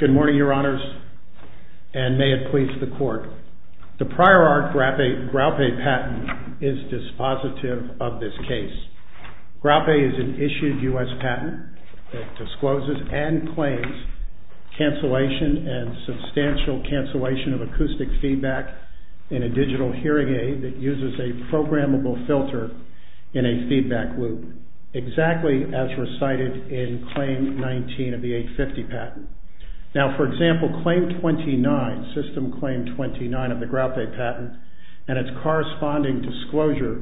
Good morning, Your Honors, and may it please the Court. The prior-art Graupe patent is dispositive of this case. Graupe is an issued U.S. patent that discloses and claims cancellation and substantial cancellation of acoustic feedback in a digital hearing aid that uses a programmable filter in a feedback loop, exactly as recited in Claim 19 of the 850 patent. Now for example, Claim 29, System Claim 29 of the Graupe patent and its corresponding disclosure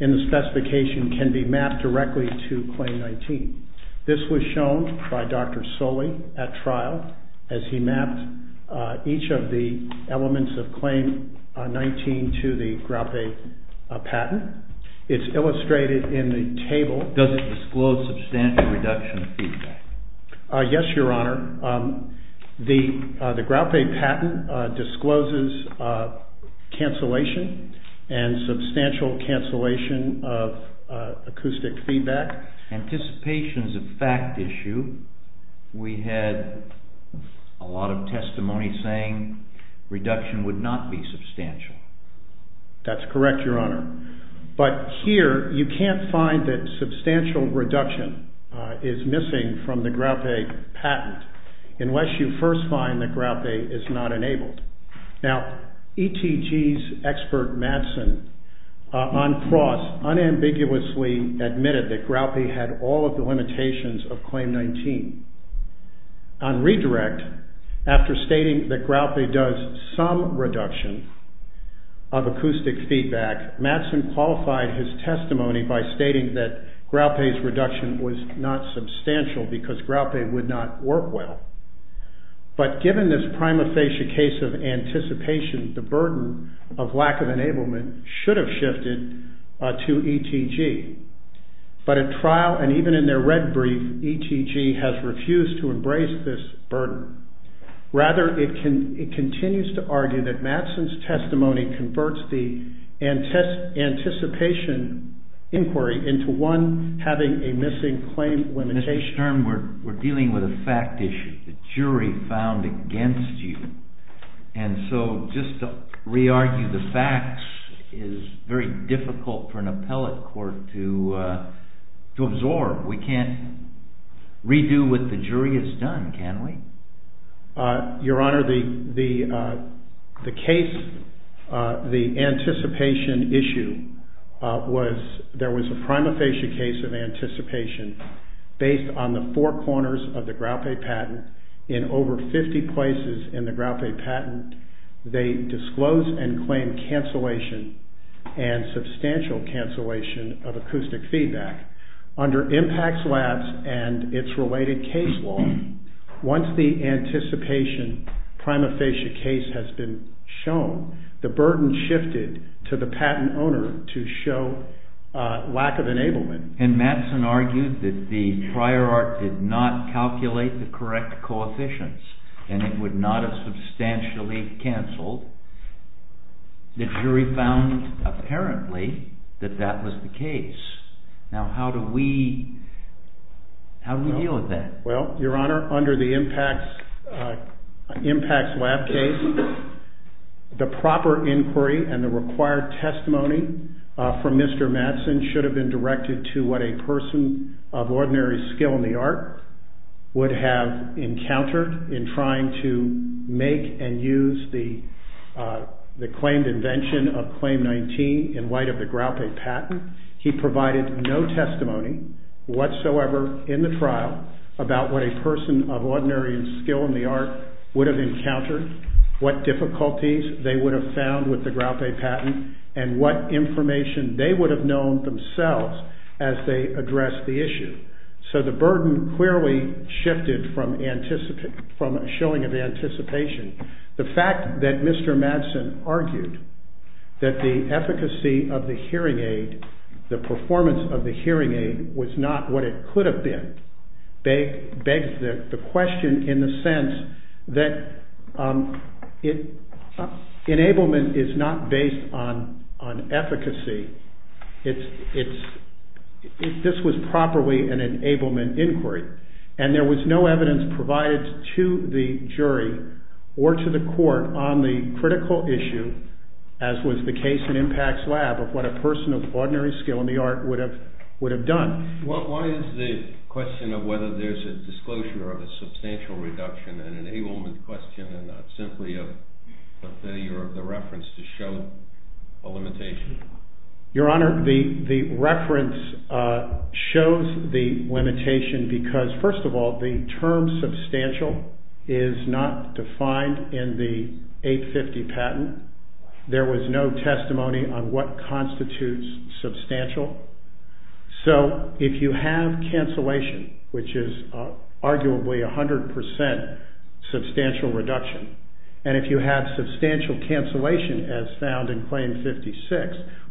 in the specification can be mapped directly to Claim 19. This was shown by Dr. Soli at trial as he mapped each of the elements of Claim 19 to the Graupe patent. It's illustrated in the table. Does it disclose substantial reduction of feedback? Yes, Your Honor. The Graupe patent discloses cancellation and substantial cancellation of acoustic feedback. Anticipation is a fact issue. We had a lot of testimony saying reduction would not be substantial. That's correct, Your Honor, but here you can't find that substantial reduction is missing from the Graupe patent unless you first find that Graupe is not enabled. Now ETG's expert, Madsen, on cross unambiguously admitted that Graupe had all of the limitations of Claim 19. On redirect, after stating that Graupe does some reduction of acoustic feedback, Madsen qualified his testimony by stating that Graupe's reduction was not substantial because Graupe would not work well. But given this prima facie case of anticipation, the burden of lack of enablement should have shifted to ETG. But at trial and even in their red brief, ETG has refused to embrace this burden. Rather, it continues to argue that Madsen's testimony converts the anticipation inquiry into one having a missing claim limitation. Mr. Stern, we're dealing with a fact issue, the jury found against you, and so just to re-argue the facts is very difficult for an appellate court to absorb. We can't redo what the jury has done, can we? Your Honor, the case, the anticipation issue, there was a prima facie case of anticipation based on the four corners of the Graupe patent in over 50 places in the Graupe patent. They disclosed and claimed cancellation and substantial cancellation of acoustic feedback. Under Impact Labs and its related case law, once the anticipation prima facie case has been shown, the burden shifted to the patent owner to show lack of enablement. And Madsen argued that the prior art did not calculate the correct coefficients and it would not have substantially cancelled. The jury found, apparently, that that was the case. Now, how do we deal with that? Well, Your Honor, under the Impact Lab case, the proper inquiry and the required testimony from Mr. Madsen should have been directed to what a person of ordinary skill in the art would have encountered in trying to make and use the claimed invention of Claim 19 in light of the Graupe patent. He provided no testimony whatsoever in the trial about what a person of ordinary skill in the art would have encountered, what difficulties they would have found with the Graupe patent, and what information they would have known themselves as they addressed the issue. So the burden clearly shifted from showing of anticipation. The fact that Mr. Madsen argued that the efficacy of the hearing aid, the performance of the hearing aid, was not what it could have been begs the question in the sense that enablement is not based on efficacy. This was properly an enablement inquiry. And there was no evidence provided to the jury or to the court on the critical issue, as was the case in Impact's lab, of what a person of ordinary skill in the art would have done. Well, why is the question of whether there's a disclosure of a substantial reduction in an enablement question and not simply a failure of the reference to show a limitation? Your Honor, the reference shows the limitation because, first of all, the term substantial is not defined in the 850 patent. There was no testimony on what constitutes substantial. So if you have cancellation, which is arguably 100% substantial reduction, and if you have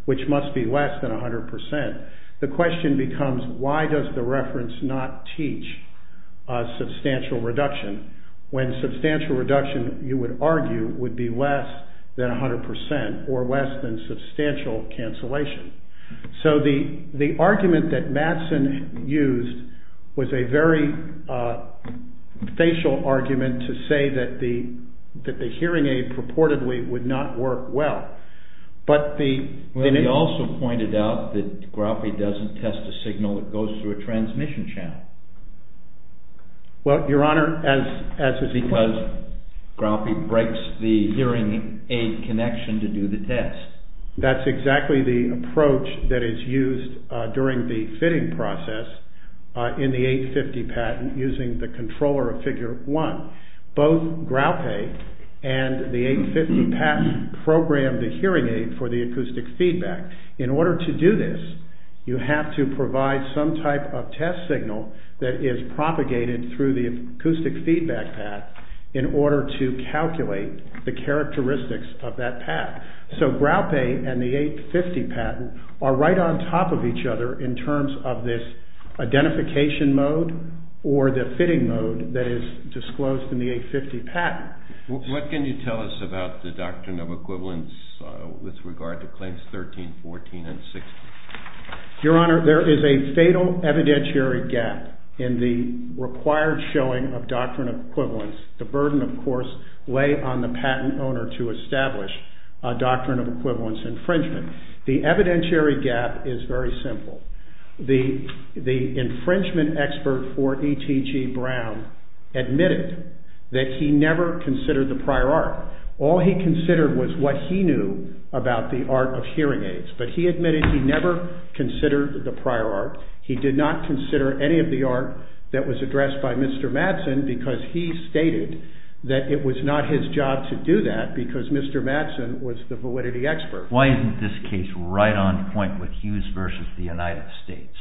which must be less than 100%, the question becomes, why does the reference not teach a substantial reduction when substantial reduction, you would argue, would be less than 100% or less than substantial cancellation? So the argument that Madsen used was a very facial argument to say that the hearing aid purportedly would not work well. But he also pointed out that Graupe doesn't test a signal that goes through a transmission channel. Well, Your Honor, as is the case, Graupe breaks the hearing aid connection to do the test. That's exactly the approach that is used during the fitting process in the 850 patent using the controller of Figure 1. Both Graupe and the 850 patent program the hearing aid for the acoustic feedback. In order to do this, you have to provide some type of test signal that is propagated through the acoustic feedback path in order to calculate the characteristics of that path. So Graupe and the 850 patent are right on top of each other in terms of this identification mode or the fitting mode that is disclosed in the 850 patent. What can you tell us about the doctrine of equivalence with regard to Claims 13, 14, and 16? Your Honor, there is a fatal evidentiary gap in the required showing of doctrine of equivalence. The burden, of course, lay on the patent owner to establish a doctrine of equivalence infringement. The evidentiary gap is very simple. The infringement expert for E.T.G. Brown admitted that he never considered the prior art. All he considered was what he knew about the art of hearing aids, but he admitted he never considered the prior art. He did not consider any of the art that was addressed by Mr. Madsen because he stated that it was not his job to do that because Mr. Madsen was the validity expert. Why isn't this case right on point with Hughes v. the United States?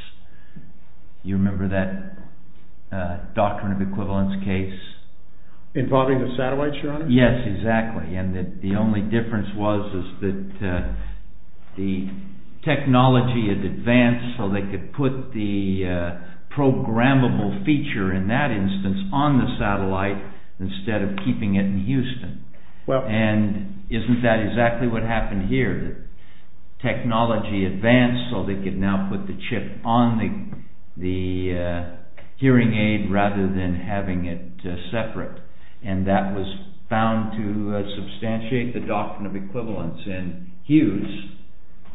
You remember that doctrine of equivalence case involving the satellites, Your Honor? Yes, exactly. And the only difference was that the technology had advanced so they could put the programmable feature in that instance on the satellite instead of keeping it in Houston. And isn't that exactly what happened here? Technology advanced so they could now put the chip on the hearing aid rather than having it separate. And that was found to substantiate the doctrine of equivalence in Hughes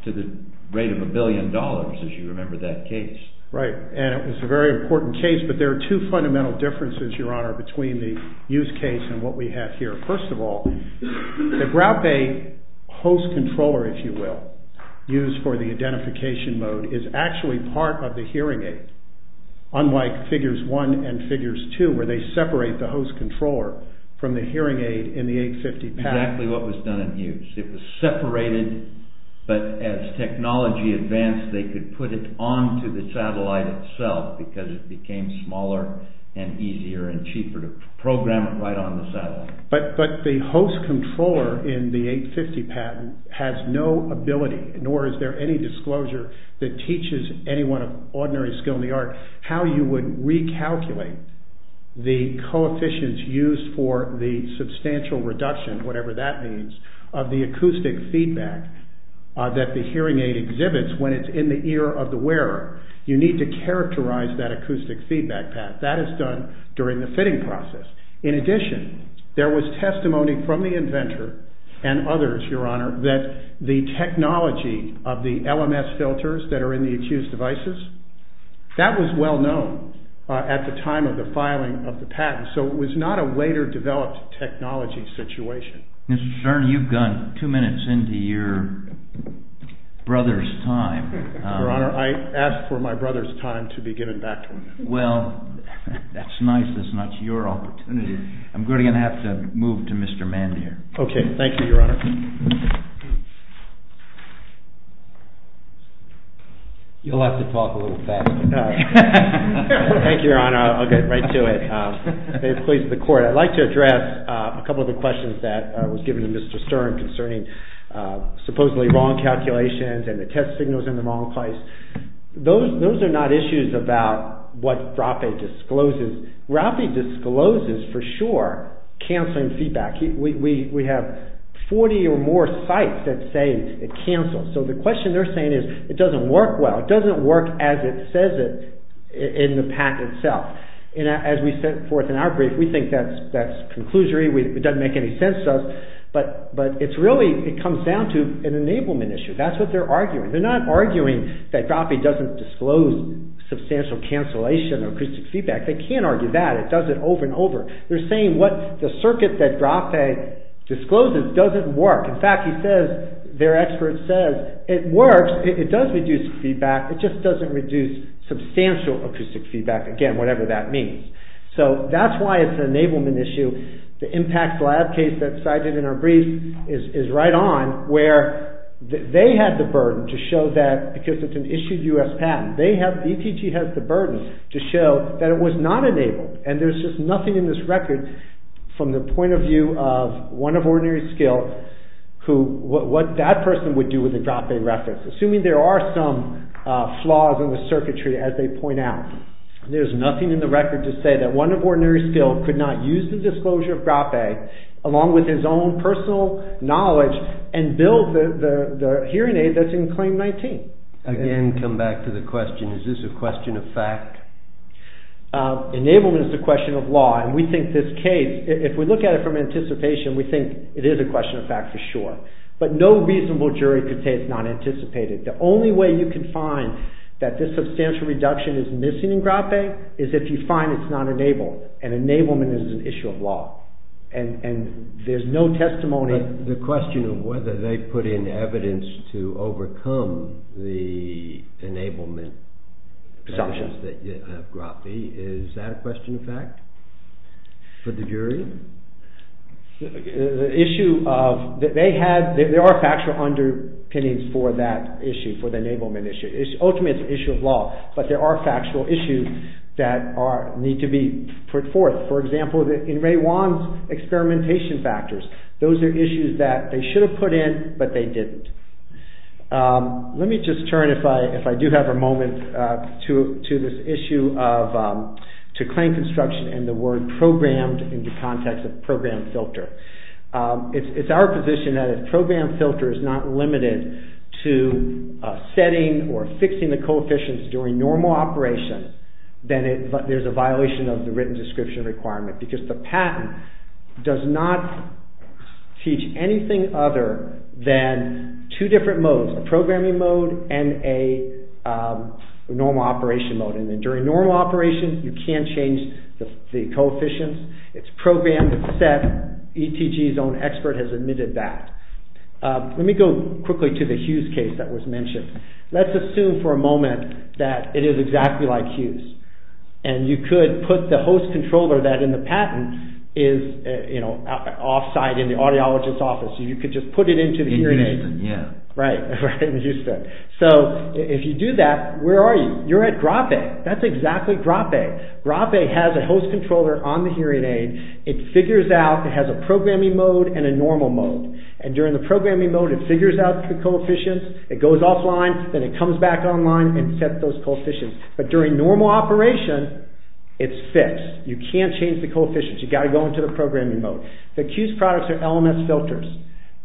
to the rate of a billion dollars, as you remember that case. Right. And it was a very important case, but there are two fundamental differences, Your Honor, between the Hughes case and what we have here. First of all, the Brow Bay host controller, if you will, used for the identification mode is actually part of the hearing aid, unlike Figures 1 and Figures 2 where they separate the host controller from the hearing aid in the 850 pad. Exactly what was done in Hughes. It was separated, but as technology advanced, they could put it onto the satellite itself because it became smaller and easier and cheaper to program it right on the satellite. But the host controller in the 850 pad has no ability, nor is there any disclosure that teaches anyone of ordinary skill in the art how you would recalculate the coefficients used for the substantial reduction, whatever that means, of the acoustic feedback that the hearing aid exhibits when it's in the ear of the wearer. You need to characterize that acoustic feedback path. That is done during the fitting process. In addition, there was testimony from the inventor and others, Your Honor, that the technology of the LMS filters that are in the Hughes devices, that was well known at the time of the filing of the patent, so it was not a later developed technology situation. Mr. Stern, you've gone two minutes into your brother's time. Your Honor, I asked for my brother's time to be given back to him. Well, that's nice, but it's not your opportunity. I'm going to have to move to Mr. Mandier. Okay, thank you, Your Honor. You'll have to talk a little faster. Thank you, Your Honor. I'll get right to it. May it please the Court. I'd like to address a couple of the questions that was given to Mr. Stern concerning supposedly wrong calculations and the test signals in the wrong place. Those are not issues about what RAPI discloses. RAPI discloses, for sure, canceling feedback. We have 40 or more sites that say it cancels. So, the question they're saying is, it doesn't work well. It doesn't work as it says it in the patent itself. And as we set forth in our brief, we think that's conclusory. It doesn't make any sense to us, but it's really, it comes down to an enablement issue. That's what they're arguing. They're not arguing that RAPI doesn't disclose substantial cancellation of acoustic feedback. They can't argue that. It does it over and over. They're saying what the circuit that RAPI discloses doesn't work. In fact, he says, their expert says, it works. It does reduce feedback. It just doesn't reduce substantial acoustic feedback, again, whatever that means. So, that's why it's an enablement issue. The impact lab case that's cited in our brief is right on, where they had the burden to show that, because it's an issued U.S. patent, they have, ETG has the burden to show that it was not enabled. And there's just nothing in this record from the point of view of one of OrdinarySkill who, what that person would do with a drop-in reference, assuming there are some flaws in the circuitry as they point out. There's nothing in the record to say that one of OrdinarySkill could not use the disclosure of RAPI, along with his own personal knowledge, and build the hearing aid that's in Claim 19. Again, come back to the question, is this a question of fact? Enablement is a question of law, and we think this case, if we look at it from anticipation, we think it is a question of fact for sure. But no reasonable jury could say it's not anticipated. The only way you can find that this substantial reduction is missing in GRAPI is if you find it's not enabled. And enablement is an issue of law. And there's no testimony... But the question of whether they put in evidence to overcome the enablement... Assumption. ...that you have GRAPI, is that a question of fact for the jury? There are factual underpinnings for that issue, for the enablement issue. Ultimately, it's an issue of law. But there are factual issues that need to be put forth. For example, in Ray Wan's experimentation factors, those are issues that they should have put in, but they didn't. Let me just turn, if I do have a moment, to this issue of... To claim construction and the word programmed in the context of program filter. It's our position that if program filter is not limited to setting or fixing the coefficients during normal operation, then there's a violation of the written description requirement. Because the patent does not teach anything other than two different modes, a programming mode and a normal operation mode. During normal operation, you can change the coefficients. It's programmed and set. ETG's own expert has admitted that. Let me go quickly to the Hughes case that was mentioned. Let's assume for a moment that it is exactly like Hughes, and you could put the host controller that in the patent is offsite in the audiologist's office. You could just put it into the hearing aid. In Houston, yeah. Right, in Houston. So if you do that, where are you? You're at Grappe. That's exactly Grappe. Grappe has a host controller on the hearing aid. It figures out, it has a programming mode and a normal mode. And during the programming mode, it figures out the coefficients. It goes offline, then it comes back online and sets those coefficients. But during normal operation, it's fixed. You can't change the coefficients. You've got to go into the programming mode. The Hughes products are LMS filters.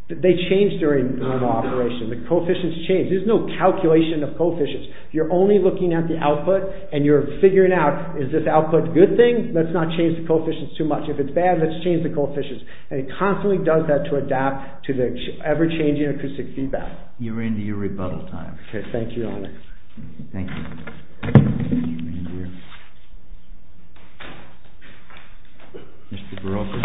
They change during normal operation. The coefficients change. There's no calculation of coefficients. You're only looking at the output, and you're figuring out, is this output a good thing? Let's not change the coefficients too much. If it's bad, let's change the coefficients. And it constantly does that to adapt to the ever-changing acoustic feedback. You're into your rebuttal time. Okay, thank you, Your Honor. Thank you. Mr. Barocco?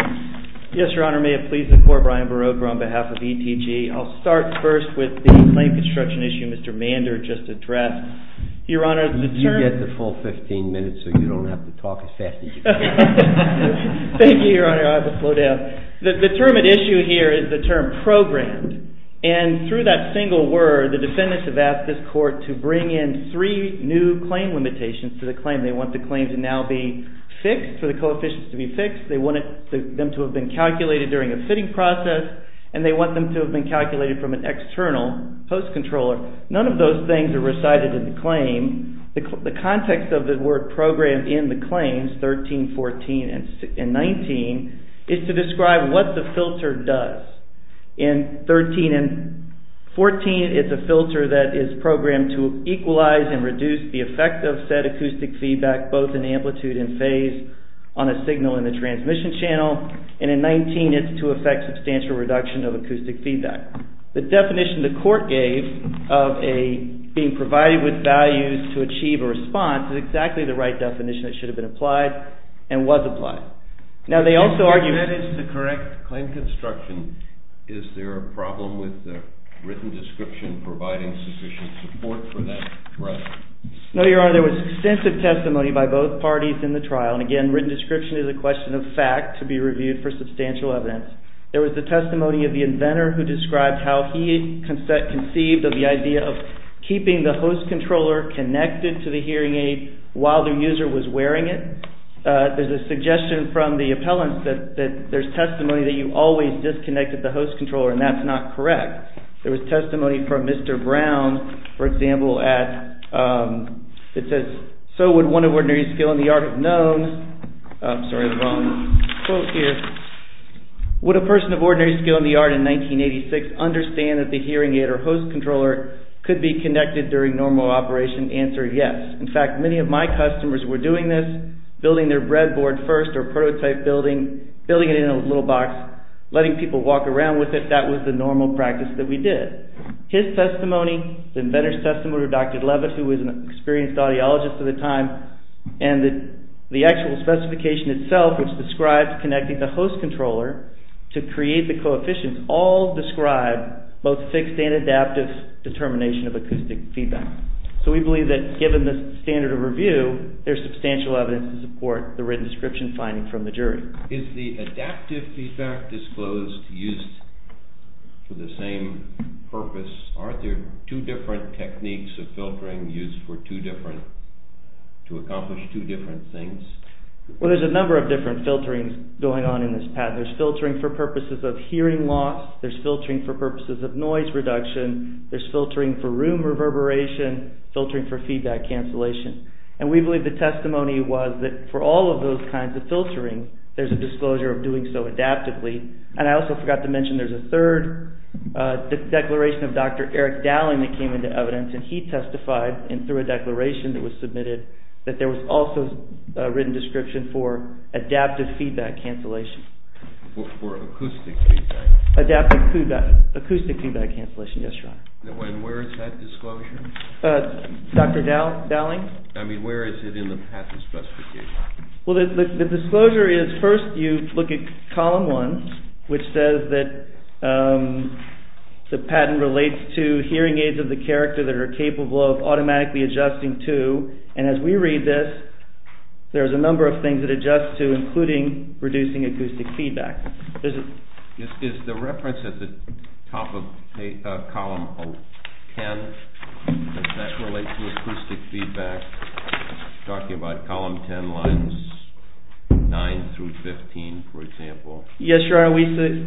Yes, Your Honor. May it please the Court, Brian Barocco on behalf of ETG. I'll start first with the claim construction issue Mr. Mander just addressed. Your Honor, the term... You get the full 15 minutes, so you don't have to talk as fast as you can. Thank you, Your Honor. I will slow down. The term at issue here is the term programmed. And through that single word, the defendants have asked this court to bring in three new claim limitations to the claim. They want the claim to now be fixed, for the coefficients to be fixed. They want them to have been calculated during a fitting process, and they want them to have been calculated from an external post-controller. None of those things are recited in the claim. The context of the word programmed in the claims, 13, 14, and 19, is to describe what the filter does. In 13 and 14, it's a filter that is programmed to equalize and reduce the effect of said acoustic feedback, both in amplitude and phase, on a signal in the transmission channel. And in 19, it's to affect substantial reduction of acoustic feedback. The definition the court gave of a... being provided with values to achieve a response is exactly the right definition that should have been applied and was applied. Now, they also argue... If that is the correct claim construction, is there a problem with the written description providing sufficient support for that threat? There was extensive testimony by both parties in the trial. And again, written description is a question of fact to be reviewed for substantial evidence. There was the testimony of the inventor who described how he conceived of the idea of keeping the host controller connected to the hearing aid while the user was wearing it. There's a suggestion from the appellant that there's testimony that you always disconnected the host controller, and that's not correct. There was testimony from Mr. Brown, for example, at... Sorry, I have the wrong quote here. Would a person of ordinary skill in the art in 1986 understand that the hearing aid or host controller could be connected during normal operation? Answer, yes. In fact, many of my customers were doing this, building their breadboard first or prototype building, building it in a little box, letting people walk around with it. That was the normal practice that we did. His testimony, the inventor's testimony, or Dr. Leavitt, who was an experienced audiologist at the time, and the actual specification itself, which describes connecting the host controller to create the coefficients, all describe both fixed and adaptive determination of acoustic feedback. So we believe that given the standard of review, there's substantial evidence to support the written description finding from the jury. Is the adaptive feedback disclosed used for the same purpose? Are there two different techniques of filtering used for two different... to accomplish two different things? Well, there's a number of different filterings going on in this pattern. There's filtering for purposes of hearing loss. There's filtering for purposes of noise reduction. There's filtering for room reverberation, filtering for feedback cancellation. And we believe the testimony was that for all of those kinds of filtering, there's a disclosure of doing so adaptively. And I also forgot to mention there's a third declaration of Dr. Eric Dowling that came into evidence, and he testified, and through a declaration that was submitted, that there was also a written description for adaptive feedback cancellation. For acoustic feedback? Adaptive feedback. Acoustic feedback cancellation, yes, Your Honor. And where is that disclosure? Dr. Dowling? I mean, where is it in the patent specification? Well, the disclosure is, first you look at column one, which says that the patent relates to hearing aids of the character that are capable of automatically adjusting to, and as we read this, there's a number of things that adjust to, including reducing acoustic feedback. Is the reference at the top of column 10, does that relate to acoustic feedback? Talking about column 10 lines 9 through 15, for example. Yes, Your Honor,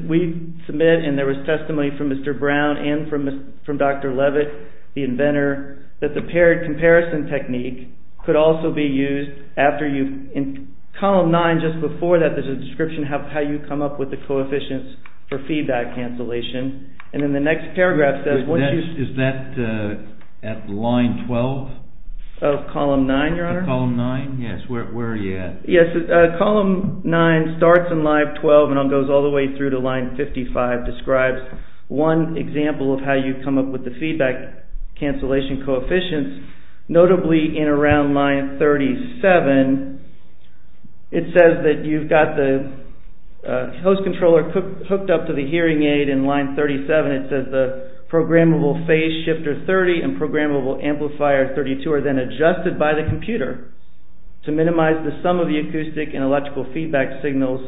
we submit, and there was testimony from Mr. Brown and from Dr. Levitt, the inventor, that the paired comparison technique could also be used after you've... Column 9, just before that, there's a description of how you come up with the coefficients for feedback cancellation. And in the next paragraph, it says... Is that at line 12? Of column 9, Your Honor? Column 9, yes, where are you at? Yes, column 9 starts in line 12 and goes all the way through to line 55, describes one example of how you come up with the feedback cancellation coefficients, notably in around line 37, it says that you've got the host controller hooked up to the hearing aid in line 37, it says the programmable phase shifter 30 and programmable amplifier 32 are then adjusted by the computer to minimize the sum of the acoustic and electrical feedback signals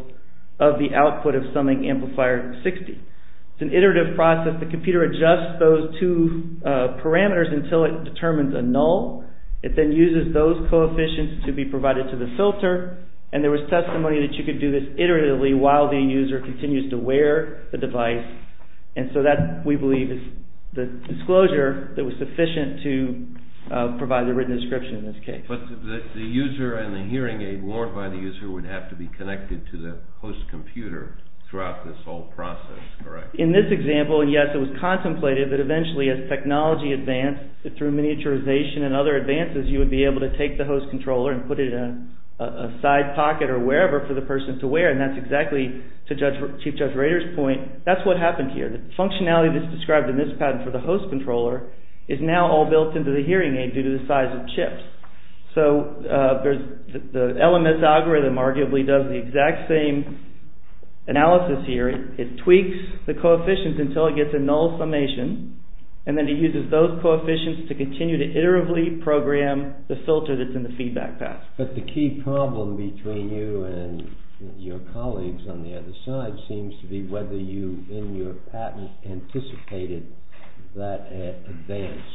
of the output of summing amplifier 60. It's an iterative process, the computer adjusts those two parameters until it determines a null, it then uses those coefficients to be provided to the filter, and there was testimony that you could do this iteratively while the user continues to wear the device, and so that, we believe, is the disclosure that was sufficient to provide the written description in this case. But the user and the hearing aid worn by the user would have to be connected to the host computer throughout this whole process, correct? In this example, yes, it was contemplated that eventually, as technology advanced through miniaturization and other advances, you would be able to take the host controller and put it in a side pocket or wherever for the person to wear, and that's exactly, to Chief Judge Rader's point, that's what happened here. The functionality that's described in this pattern for the host controller is now all built into the hearing aid due to the size of chips. So, the LMS algorithm arguably does the exact same analysis here, it tweaks the coefficients until it gets a null summation, and then it uses those coefficients to continue to iteratively program the filter that's in the feedback path. But the key problem between you and your colleagues on the other side seems to be whether you, in your patent, anticipated that advance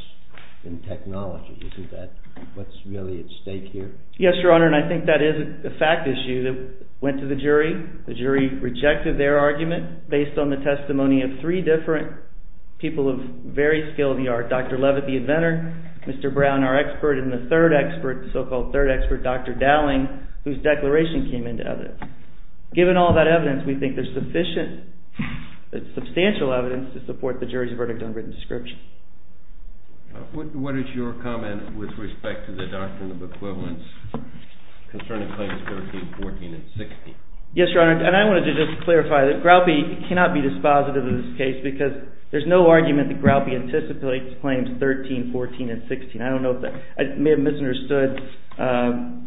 in technology. Isn't that what's really at stake here? Yes, Your Honor, and I think that is a fact issue that went to the jury. The jury rejected their argument based on the testimony of three different people of very skilled yard. Dr. Levitt, the inventor, Mr. Brown, our expert, and the third expert, the so-called third expert, Dr. Dowling, whose declaration came into evidence. Given all that evidence, we think there's sufficient, substantial evidence to support the jury's verdict on written description. What is your comment with respect to the doctrine of equivalence concerning claims 13, 14, and 16? Yes, Your Honor, and I wanted to just clarify that Groutby cannot be dispositive of this case because there's no argument that Groutby anticipates claims 13, 14, and 16. I may have misunderstood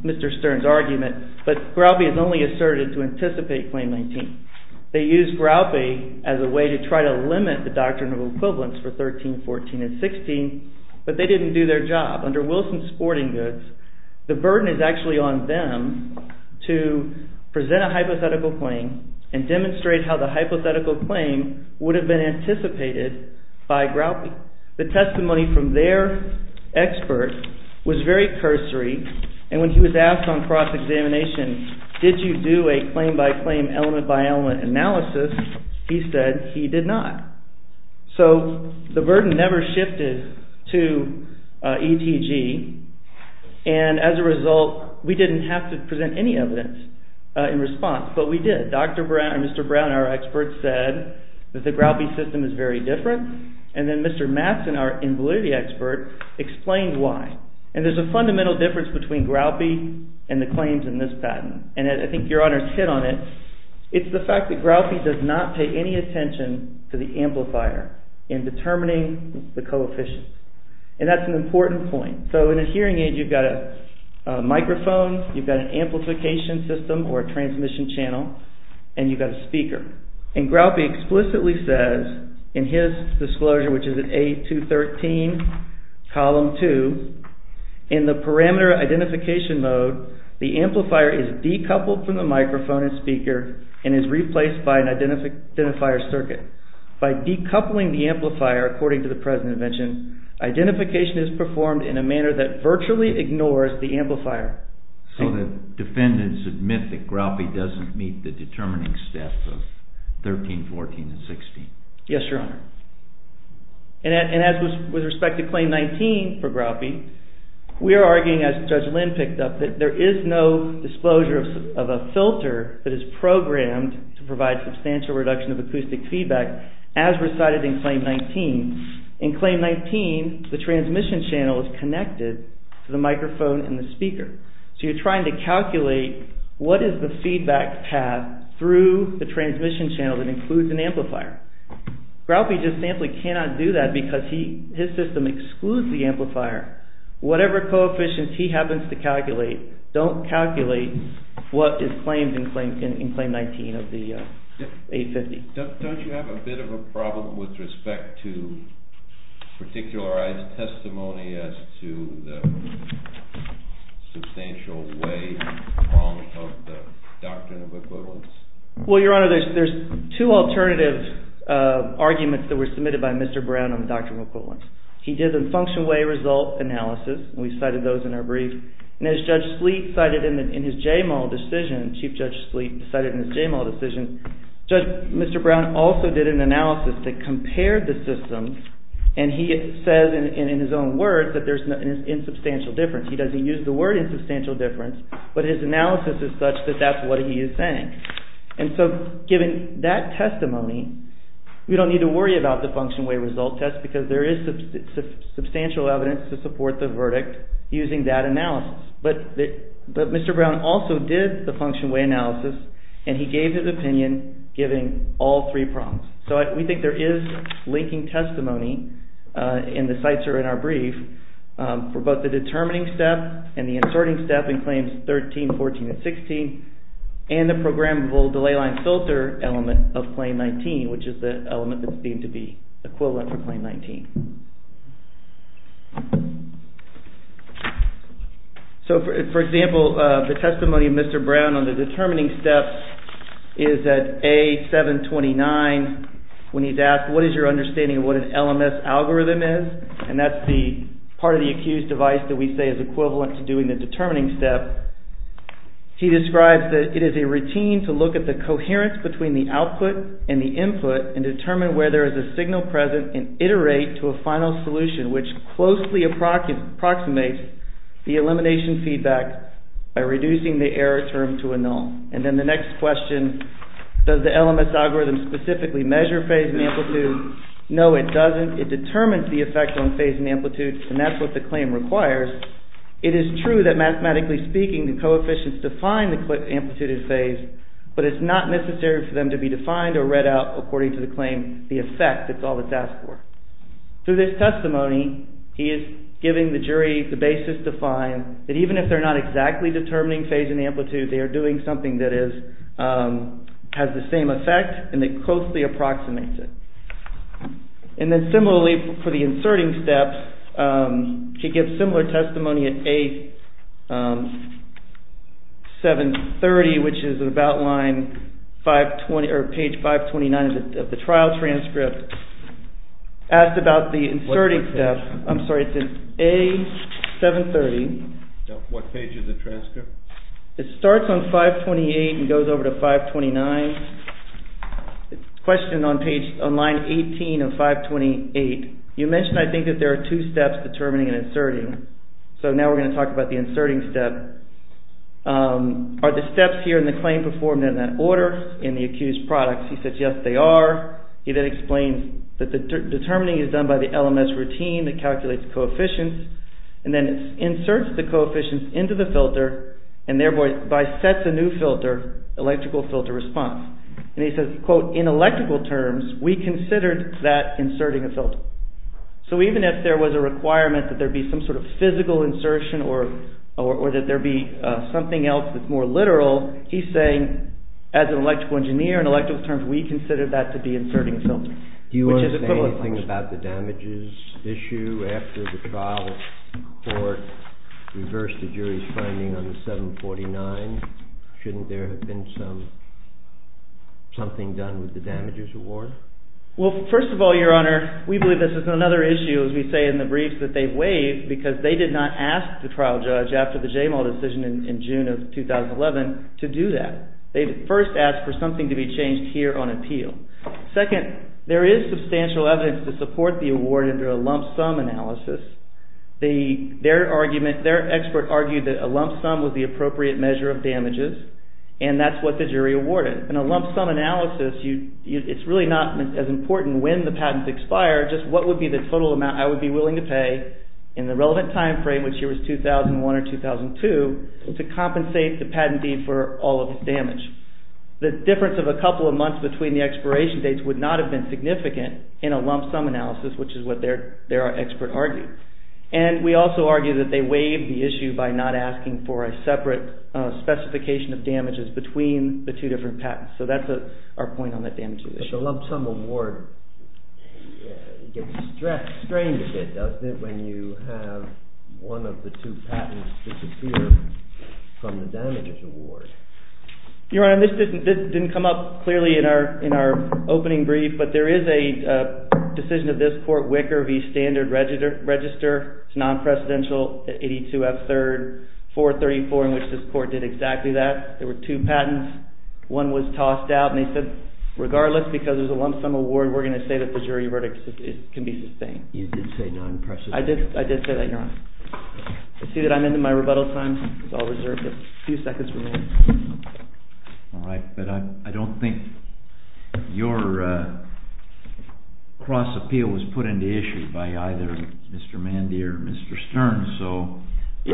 Mr. Stern's argument, but Groutby has only asserted to anticipate claim 19. They used Groutby as a way to try to limit the doctrine of equivalence for 13, 14, and 16, but they didn't do their job. Under Wilson Sporting Goods, the burden is actually on them to present a hypothetical claim and demonstrate how the hypothetical claim would have been anticipated by Groutby. The testimony from their expert was very cursory, and when he was asked on cross-examination, did you do a claim-by-claim, element-by-element analysis, he said he did not. So the burden never shifted to ETG, and as a result, we didn't have to present any evidence in response, but we did. Dr. Brown, Mr. Brown, our expert, said that the Groutby system is very different, and then Mr. Matson, our invalidity expert, explained why. And there's a fundamental difference between Groutby and the claims in this patent, and I think Your Honor's hit on it. It's the fact that Groutby does not pay any attention to the amplifier in determining the coefficient, and that's an important point. So in a hearing aid, you've got a microphone, you've got an amplification system or a transmission channel, and you've got a speaker. And Groutby explicitly says, in his disclosure, which is in A213, column 2, in the parameter identification mode, the amplifier is decoupled from the microphone and speaker and is replaced by an identifier circuit. By decoupling the amplifier, according to the present invention, identification is performed in a manner that virtually ignores the amplifier. So the defendants admit that Groutby doesn't meet the determining steps of 13, 14, and 16. Yes, Your Honor. And as with respect to Claim 19 for Groutby, we are arguing, as Judge Lynn picked up, that there is no disclosure of a filter that is programmed to provide substantial reduction of acoustic feedback as recited in Claim 19. In Claim 19, the transmission channel is connected to the microphone and the speaker. So you're trying to calculate what is the feedback path through the transmission channel that includes an amplifier. Groutby just simply cannot do that because his system excludes the amplifier. Whatever coefficients he happens to calculate, don't calculate what is claimed in Claim 19 of the 850. Don't you have a bit of a problem with respect to particularized testimony as to the substantial way wrong of the Doctrine of Equivalence? Well, Your Honor, there's two alternative arguments that were submitted by Mr. Brown on the Doctrine of Equivalence. He did a function-way result analysis. We cited those in our brief. And as Judge Sleet cited in his JMAL decision, Chief Judge Sleet cited in his JMAL decision, Judge Mr. Brown also did an analysis that compared the systems and he says in his own words that there's an insubstantial difference. He doesn't use the word insubstantial difference, but his analysis is such that that's what he is saying. And so given that testimony, we don't need to worry about the function-way result test because there is substantial evidence to support the verdict using that analysis. But Mr. Brown also did the function-way analysis and he gave his opinion giving all three prompts. So we think there is linking testimony in the cites or in our brief for both the determining step and the asserting step in Claims 13, 14, and 16 and the programmable delay line filter element of Claim 19, which is the element that's deemed to be equivalent for Claim 19. So for example, the testimony of Mr. Brown on the determining step is that A729, when he's asked what is your understanding of what an LMS algorithm is and that's the part of the accused device that we say is equivalent to doing the determining step. He describes that it is a routine to look at the coherence between the output and the input and determine where there is a signal present and iterate to a conclusion. which closely approximates the elimination feedback by reducing the error term to a null. And then the next question, does the LMS algorithm specifically measure phase and amplitude? No, it doesn't. It determines the effect on phase and amplitude and that's what the claim requires. It is true that mathematically speaking the coefficients define the amplitude and phase but it's not necessary for them to be defined or read out according to the claim. The effect, that's all that's asked for. Through this testimony, he is giving the jury the basis to find that even if they're not exactly determining phase and amplitude, they are doing something that has the same effect and that closely approximates it. And then similarly, for the inserting step, he gives similar testimony at A730, which is about line 520 or page 529 of the trial transcript. Asked about the inserting step. I'm sorry, it's in A730. What page of the transcript? It starts on 528 and goes over to 529. Question on line 18 of 528. You mentioned, I think, that there are two steps determining and inserting. So now we're going to talk about the inserting step. Are the steps here in the claim performed in that order in the accused products? He says, yes, they are. He then explains that the determining is done by the LMS routine that calculates coefficients and then inserts the coefficients into the filter and thereby sets a new filter, electrical filter response. And he says, quote, in electrical terms, we considered that inserting a filter. So even if there was a requirement that there be some sort of physical insertion or that there be something else that's more literal, he's saying, as an electrical engineer, in electrical terms, we considered that to be inserting a filter. Do you understand anything about the damages issue after the trial court reversed the jury's finding on the 749? Shouldn't there have been something done with the damages award? Well, first of all, Your Honor, we believe this is another issue, as we say in the briefs, that they waived because they did not ask the trial judge after the JML decision in June of 2011 to do that. They first asked for something to be changed here on appeal. Second, there is substantial evidence to support the award under a lump sum analysis. Their expert argued that a lump sum was the appropriate measure of damages, and that's what the jury awarded. In a lump sum analysis, it's really not as important when the patents expire, just what would be the total amount I would be willing to pay in the relevant time frame, which here is 2001 or 2002, to compensate the patentee for all of the damage. The difference of a couple of months between the expiration dates would not have been significant in a lump sum analysis, which is what their expert argued. And we also argue that they waived the issue by not asking for a separate specification of damages between the two different patents. So that's our point on the damages issue. The lump sum award gets strained a bit, doesn't it, when you have one of the two patents disappear from the damages award? Your Honor, this didn't come up clearly in our opening brief, but there is a decision of this court, Wicker v. Standard Register. It's non-presidential, 82 F. 3rd, 434, in which this court did exactly that. There were two patents. One was tossed out, and they said, regardless, because there's a lump sum award, we're going to say that the jury verdict can be sustained. You did say non-presidential. I did say that, Your Honor. I see that I'm into my rebuttal time. It's all reserved, but a few seconds remain. All right, but I don't think your cross-appeal was put into issue by either Mr. Mandier or Mr. Stern, so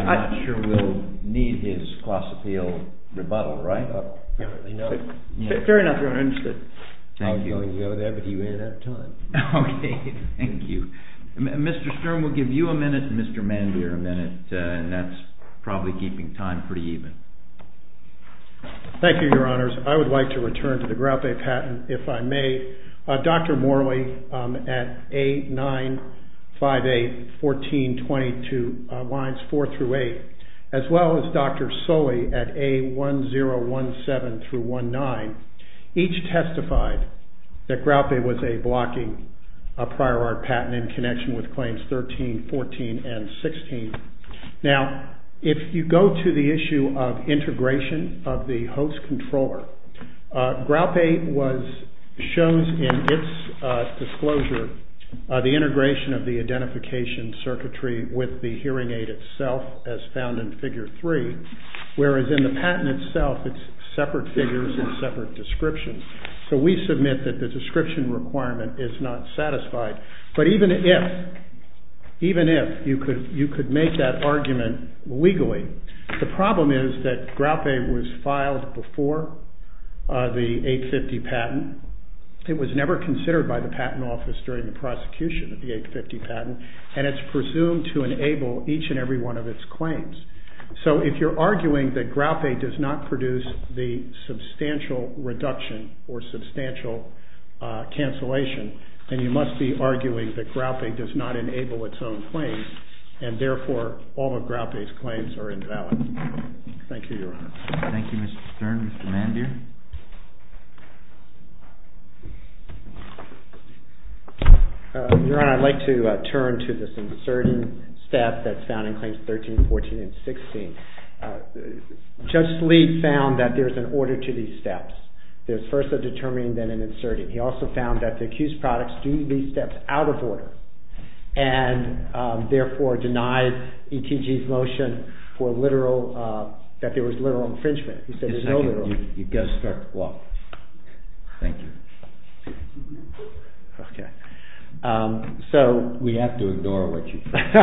I'm not sure we'll need his cross-appeal rebuttal, right? Apparently not. Fair enough, Your Honor. I understand. Thank you. I was going to go with that, but you ran out of time. Okay. Thank you. Mr. Stern, we'll give you a minute and Mr. Mandier a minute, and that's probably keeping time pretty even. Thank you, Your Honors. I would like to return to the Grout Bay patent, if I may. Dr. Morley at A958-1422 lines four through eight, as well as Dr. Sully at A1017-19, each testified that Grout Bay was a blocking prior art patent in connection with claims 13, 14, and 16. Now, if you go to the issue of integration of the host controller, Grout Bay shows in its disclosure the integration of the identification circuitry with the hearing aid itself, as found in Figure 3, whereas in the patent itself it's separate figures and separate descriptions. So we submit that the description requirement is not satisfied. But even if you could make that argument legally, the problem is that Grout Bay was filed before the 850 patent. It was never considered by the patent office during the prosecution of the 850 patent, and it's presumed to enable each and every one of its claims. So if you're arguing that Grout Bay does not produce the substantial reduction or substantial cancellation, then you must be arguing that Grout Bay does not enable its own claims, and therefore all of Grout Bay's claims are invalid. Thank you, Your Honor. Thank you, Mr. Stern. Mr. Mandier? Your Honor, I'd like to turn to this inserting step that's found in claims 13, 14, and 16. Judge Lee found that there's an order to these steps. There's first a determining, then an inserting. He also found that the accused products do these steps out of order and therefore denied ETG's motion that there was literal infringement. He said there's no literal. You've got to start with the law. Thank you. We have to ignore what you've said.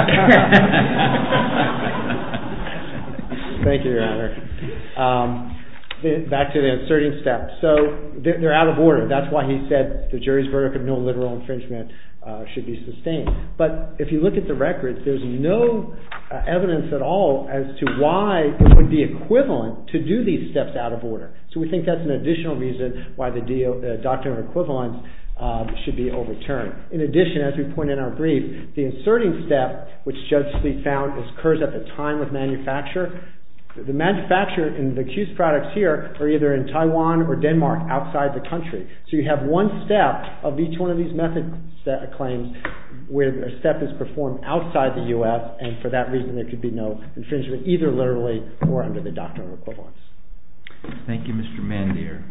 Thank you, Your Honor. Back to the inserting step. So they're out of order. That's why he said the jury's verdict of no literal infringement should be sustained. But if you look at the records, there's no evidence at all as to why it would be equivalent to do these steps out of order. So we think that's an additional reason why the doctrine of equivalence should be overturned. In addition, as we point in our brief, the inserting step, which Judge Lee found, occurs at the time of manufacture. The manufacture and the accused products here are either in Taiwan or Denmark outside the country. So you have one step of each one of these method claims where a step is performed outside the U.S. and for that reason there could be no infringement either literally or under the doctrine of equivalence. Thank you, Mr. Mandir.